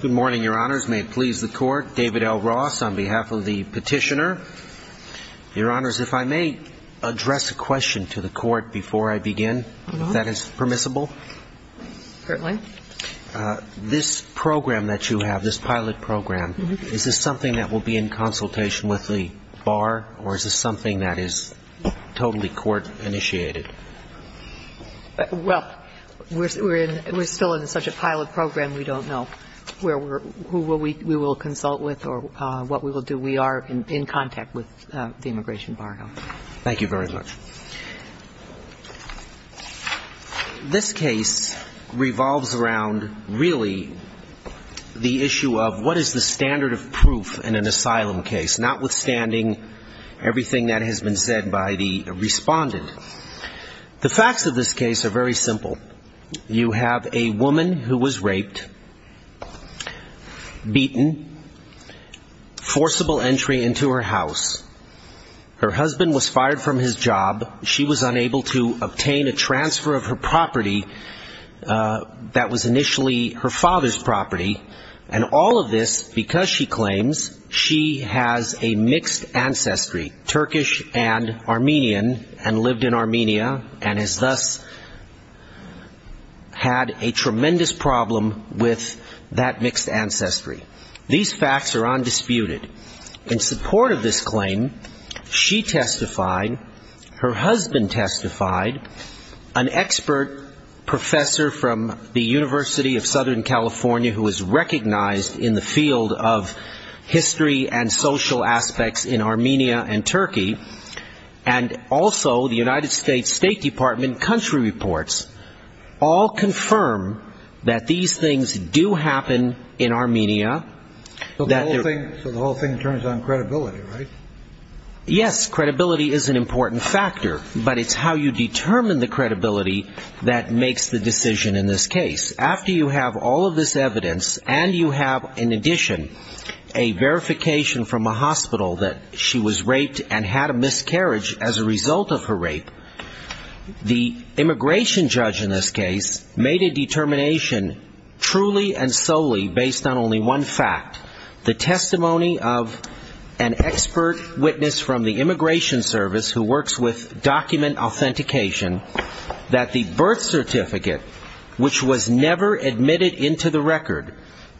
Good morning, Your Honors. May it please the Court, David L. Ross on behalf of the Petitioner. Your Honors, if I may address a question to the Court before I begin, if that is permissible. Certainly. This program that you have, this pilot program, is this something that will be in consultation with the Bar, or is this something that is totally Court-initiated? Well, we're still in such a pilot program, we don't know who we will consult with or what we will do. We are in contact with the Immigration Bar now. Thank you very much. This case revolves around, really, the issue of what is the standard of proof in an asylum case, notwithstanding everything that has been said by the respondent. The facts of this case are very simple. You have a woman who was raped, beaten, forcible entry into her house. Her husband was fired from his job. She was unable to obtain a transfer of her property that was initially her father's property. And all of this because she claims she has a mixed ancestry, Turkish and Armenian, and lived in Armenia, and has thus had a tremendous problem with that mixed ancestry. These facts are undisputed. In support of this claim, she testified, her husband testified, an expert professor from the University of Southern California, who is recognized in the field of history and social aspects in Armenia and Turkey, and also the United States State Department country reports all confirm that these things do happen in Armenia. So the whole thing turns on credibility, right? Yes, credibility is an important factor. But it's how you determine the credibility that makes the decision in this case. After you have all of this evidence, and you have, in addition, a verification from a hospital that she was raped and had a miscarriage as a result of her rape, the immigration judge in this case made a determination truly and solely based on only one fact, the testimony of an expert witness from the Immigration Service who works with document authentication, that the birth certificate, which was never admitted into the record,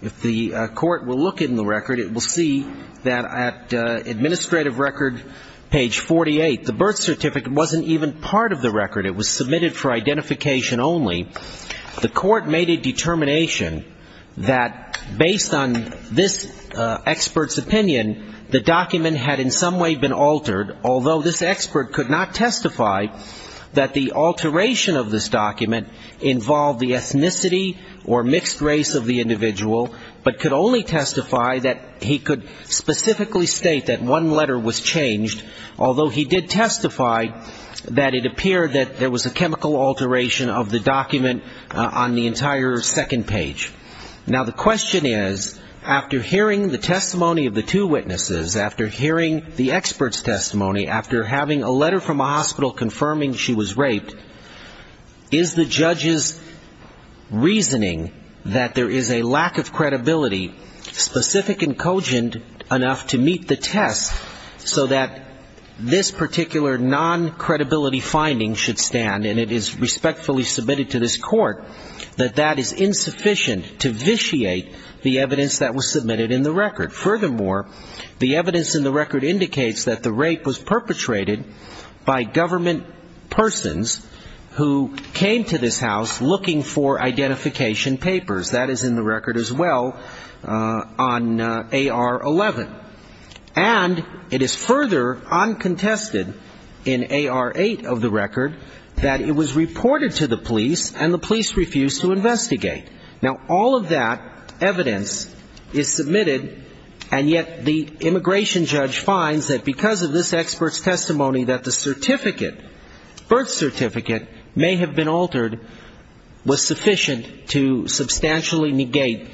if the court will look in the record, it will see that at administrative record, page 48, the birth certificate wasn't even part of the record. It was submitted for identification only. The court made a determination that based on this expert's opinion, the document had in some way been altered, although this expert could not testify that the alteration of this document involved the ethnicity or mixed race of the individual, but could only testify that he could specifically state that one letter was changed, although he did testify that it appeared that there was a chemical alteration of the document on the entire second page. Now, the question is, after hearing the testimony of the two witnesses, after hearing the expert's testimony, after having a letter from a hospital confirming she was raped, is the judge's reasoning that there is a lack of credibility, specific and cogent enough to meet the test so that this particular non-credibility finding should stand and it is respectfully submitted to this court, that that is insufficient to vitiate the evidence that was submitted in the record. And it is further uncontested in AR-8 of the record that it was reported to the police and the police refused to investigate. Now, all of that evidence is submitted, and yet the immigration judge finds that because of this expert's opinion, that the certificate, birth certificate, may have been altered, was sufficient to substantially negate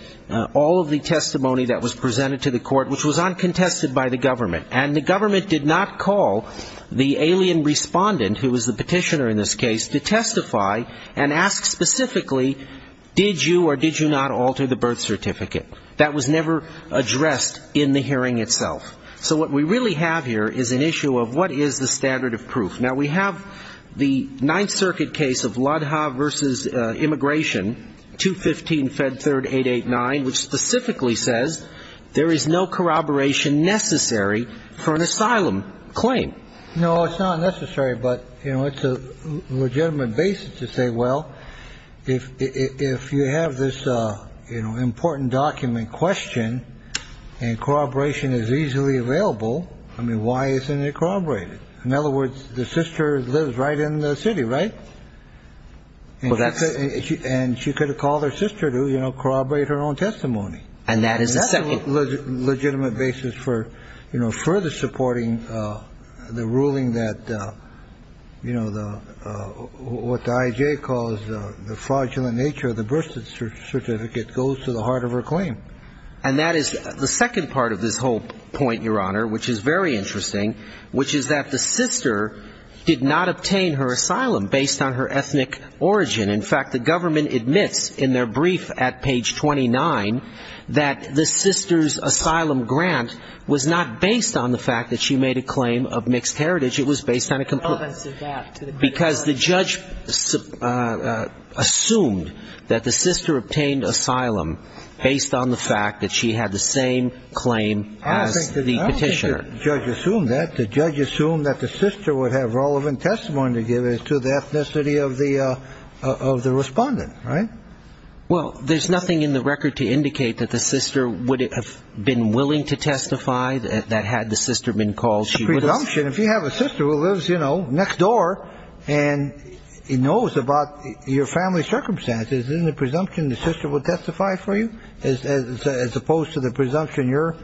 all of the testimony that was presented to the court, which was uncontested by the government. And the government did not call the alien respondent, who was the petitioner in this case, to testify and ask specifically, did you or did you not alter the birth certificate? That was never addressed in the hearing itself. So what we really have here is an issue of what is the standard of proof. Now, we have the Ninth Circuit case of Lodha v. Immigration, 215-Fed3-889, which specifically says there is no corroboration necessary for an asylum claim. No, it's not necessary, but, you know, it's a legitimate basis to say, well, if you have this, you know, important document question, and corroboration is easily available, I mean, why isn't it corroborated? In other words, the sister lives right in the city, right? And she could have called her sister to, you know, corroborate her own testimony. That's a legitimate basis for, you know, further supporting the ruling that, you know, what the I.J. calls the fraudulent nature of the birth certificate goes to the heart of her claim. Now, there is the second part of this whole point, Your Honor, which is very interesting, which is that the sister did not obtain her asylum based on her ethnic origin. In fact, the government admits in their brief at page 29 that the sister's asylum grant was not based on the fact that she made a claim of mixed heritage, it was based on a complaint. Because the judge assumed that the sister obtained asylum based on the fact that she had the sister's birth certificate. And the judge did not make the same claim as the petitioner. I don't think the judge assumed that. The judge assumed that the sister would have relevant testimony to give to the ethnicity of the respondent, right? Well, there's nothing in the record to indicate that the sister would have been willing to testify that had the sister been called, she would have. But the presumption, if you have a sister who lives, you know, next door and knows about your family circumstances, isn't the presumption the sister would testify for you? As opposed to the presumption you're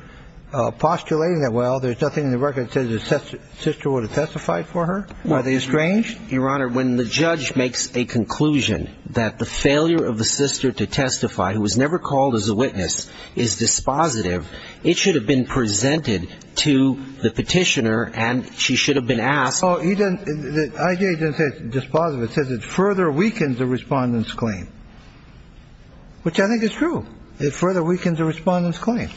postulating that, well, there's nothing in the record that says the sister would have testified for her? Are they estranged? Your Honor, when the judge makes a conclusion that the failure of the sister to testify, who was never called as a witness, is dispositive, it should have been presented to the petitioner and the family. And she should have been asked. The IJA doesn't say it's dispositive. It says it further weakens the respondent's claim. Which I think is true. It further weakens the respondent's claim.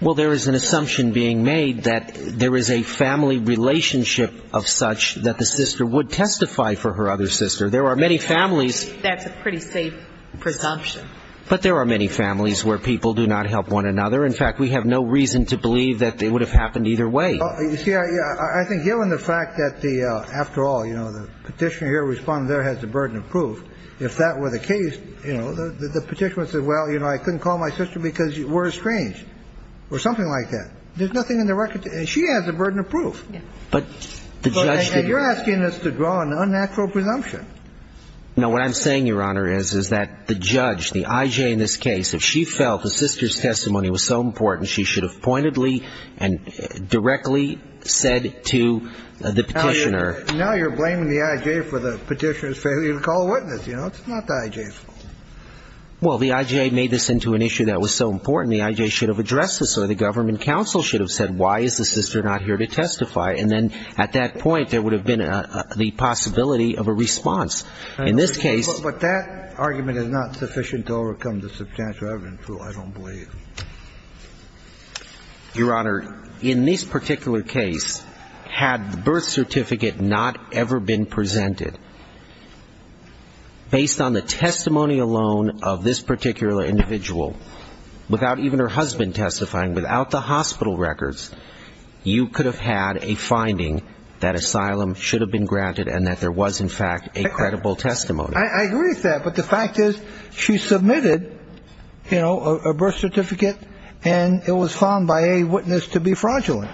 Well, there is an assumption being made that there is a family relationship of such that the sister would testify for her other sister. There are many families. That's a pretty safe presumption. But there are many families where people do not help one another. In fact, we have no reason to believe that it would have happened either way. You see, I think given the fact that the after all, you know, the petitioner here, respondent there has the burden of proof, if that were the case, you know, the petitioner would say, well, you know, I couldn't call my sister because we're estranged or something like that. There's nothing in the record. And she has the burden of proof. And you're asking us to draw an unnatural presumption. No, what I'm saying, Your Honor, is that the judge, the IJA in this case, if she felt the sister's testimony was so important, she should have pointedly and directly said to the petitioner. Now you're blaming the IJA for the petitioner's failure to call a witness. You know, it's not the IJA's fault. I mean, you could have said, why, and then at that point, there would have been the possibility of a response. In this case — But that argument is not sufficient to overcome the substantial evidence. I don't believe. Your Honor, in this particular case, had the birth certificate not ever been presented, based on the testimony alone of this particular individual, without even her husband testifying, without the hospital records, you could have had a failure of testimony. I agree with that, but the fact is, she submitted, you know, a birth certificate, and it was found by a witness to be fraudulent.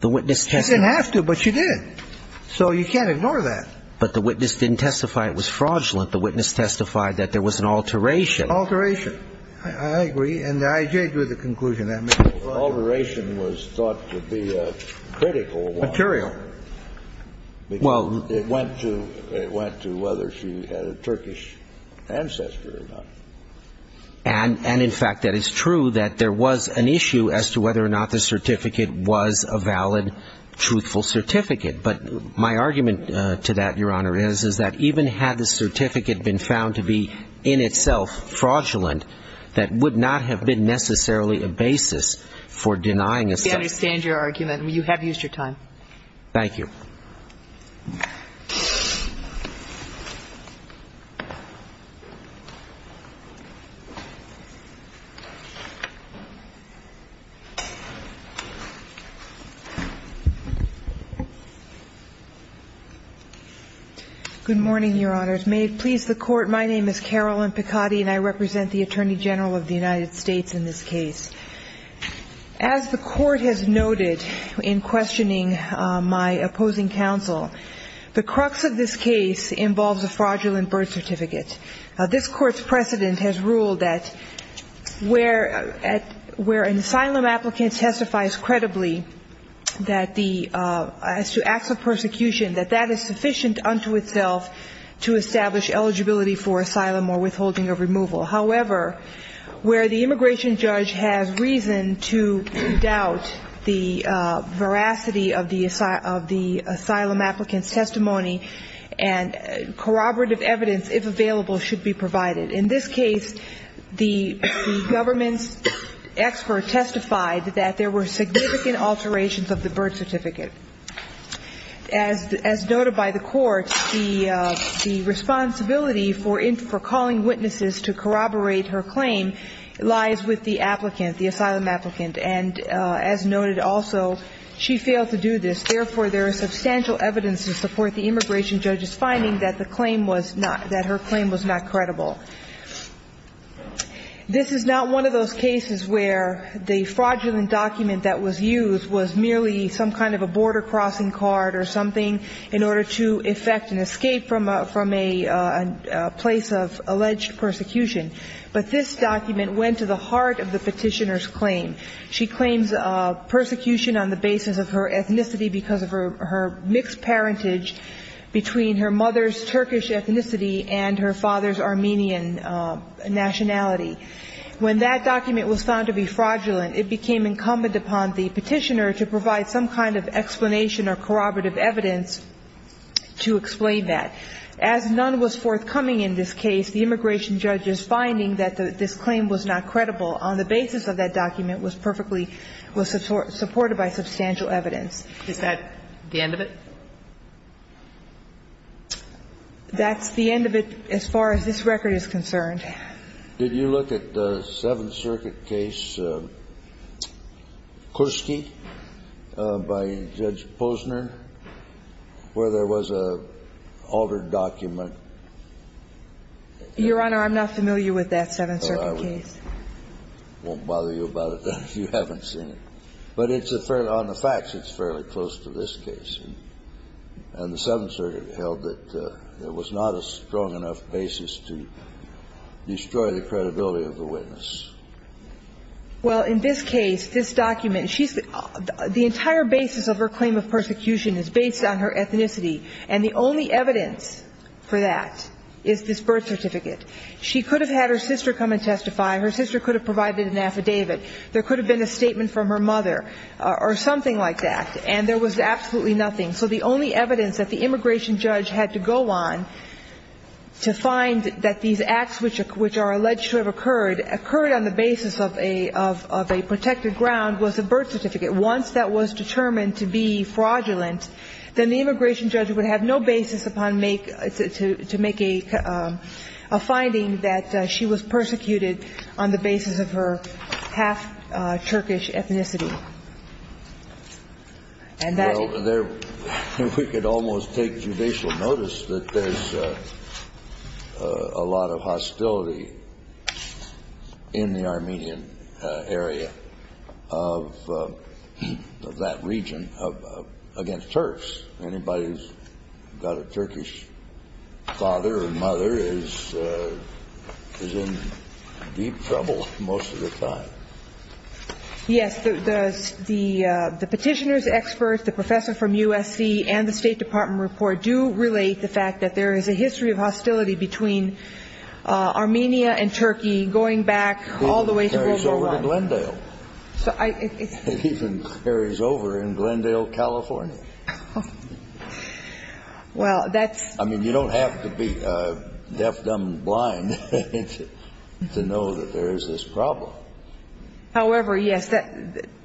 She didn't have to, but she did. So you can't ignore that. But the witness didn't testify it was fraudulent. The witness testified that there was an alteration. Alteration. I agree, and I agree with the conclusion that made. Alteration was thought to be a critical one. Material. Well, it went to whether she had a Turkish ancestor or not. And, in fact, that is true, that there was an issue as to whether or not the certificate was a valid, truthful certificate. But my argument to that, Your Honor, is, is that even had the certificate been found to be in itself fraudulent, that would not have been necessarily a basis for denying a certificate. I understand your argument. You have used your time. Thank you. Good morning, Your Honors. May it please the Court, my name is Carolyn Picotti, and I represent the Attorney General of the United States in this case. As the Court has noted in questioning my opposing counsel, the crux of this case involves a fraudulent birth certificate. This Court's precedent has ruled that where an asylum applicant testifies credibly that the, as to access to the birth certificate, there is a loss of persecution, that that is sufficient unto itself to establish eligibility for asylum or withholding of removal. However, where the immigration judge has reason to doubt the veracity of the asylum applicant's testimony, and corroborative evidence, if available, should be provided. In this case, the government's expert testified that there were significant alterations of the birth certificate. As noted by the Court, the responsibility for calling witnesses to corroborate her claim lies with the applicant, the asylum applicant, and as noted also, she failed to do this. Therefore, there is substantial evidence to support the immigration judge's finding that the claim was not, that her claim was not credible. This is not one of those cases where the fraudulent document that was used was merely some kind of a border-crossing card or something like that. Or something in order to effect an escape from a place of alleged persecution. But this document went to the heart of the Petitioner's claim. She claims persecution on the basis of her ethnicity because of her mixed parentage between her mother's Turkish ethnicity and her father's Armenian nationality. When that document was found to be fraudulent, it became incumbent upon the Petitioner to provide some kind of explanation or corroborative evidence to explain that. As none was forthcoming in this case, the immigration judge's finding that this claim was not credible on the basis of that document was perfectly, was supported by substantial evidence. Is that the end of it? That's the end of it as far as this record is concerned. Did you look at the Seventh Circuit case, Kursky, by Judge Posner, where there was an altered document? Your Honor, I'm not familiar with that Seventh Circuit case. Well, I won't bother you about it then if you haven't seen it. But on the facts, it's fairly close to this case. And the Seventh Circuit held that there was not a strong enough basis to destroy the credibility of the witness. Well, in this case, this document, the entire basis of her claim of persecution is based on her ethnicity. And the only evidence for that is this birth certificate. She could have had her sister come and testify. Her sister could have provided an affidavit. There could have been a statement from her mother or something like that. And there was absolutely nothing. So the only evidence that the immigration judge had to go on to find that these acts which are alleged to have occurred, occurred on the basis of a protected ground, was a birth certificate. Once that was determined to be fraudulent, then the immigration judge would have no basis upon make to make a finding that she was persecuted on the basis of her half-Turkish ethnicity. And that's it. Well, we could almost take judicial notice that there's a lot of hostility in the Armenian area. I mean, there's a lot of hostility of that region against Turks. Anybody who's got a Turkish father or mother is in deep trouble most of the time. Yes. The petitioner's expert, the professor from USC and the State Department report do relate the fact that there is a history of hostility between Armenia and Turkey going back all the way to World War I. It's not Glendale. It even carries over in Glendale, California. I mean, you don't have to be deaf, dumb, and blind to know that there is this problem. However, yes.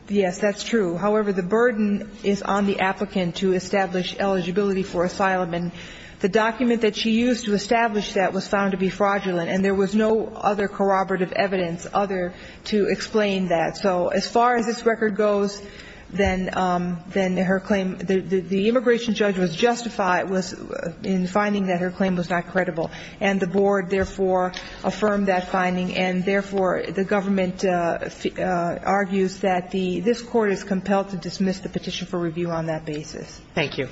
Yes, that's true. However, the burden is on the applicant to establish eligibility for asylum. And the document that she used to establish that was found to be fraudulent. And there was no other corroborative evidence other to explain that. So as far as this record goes, then her claim, the immigration judge was justified in finding that her claim was not credible. And the board, therefore, affirmed that finding. And, therefore, the government argues that this Court is compelled to dismiss the petition for review on that basis. Thank you.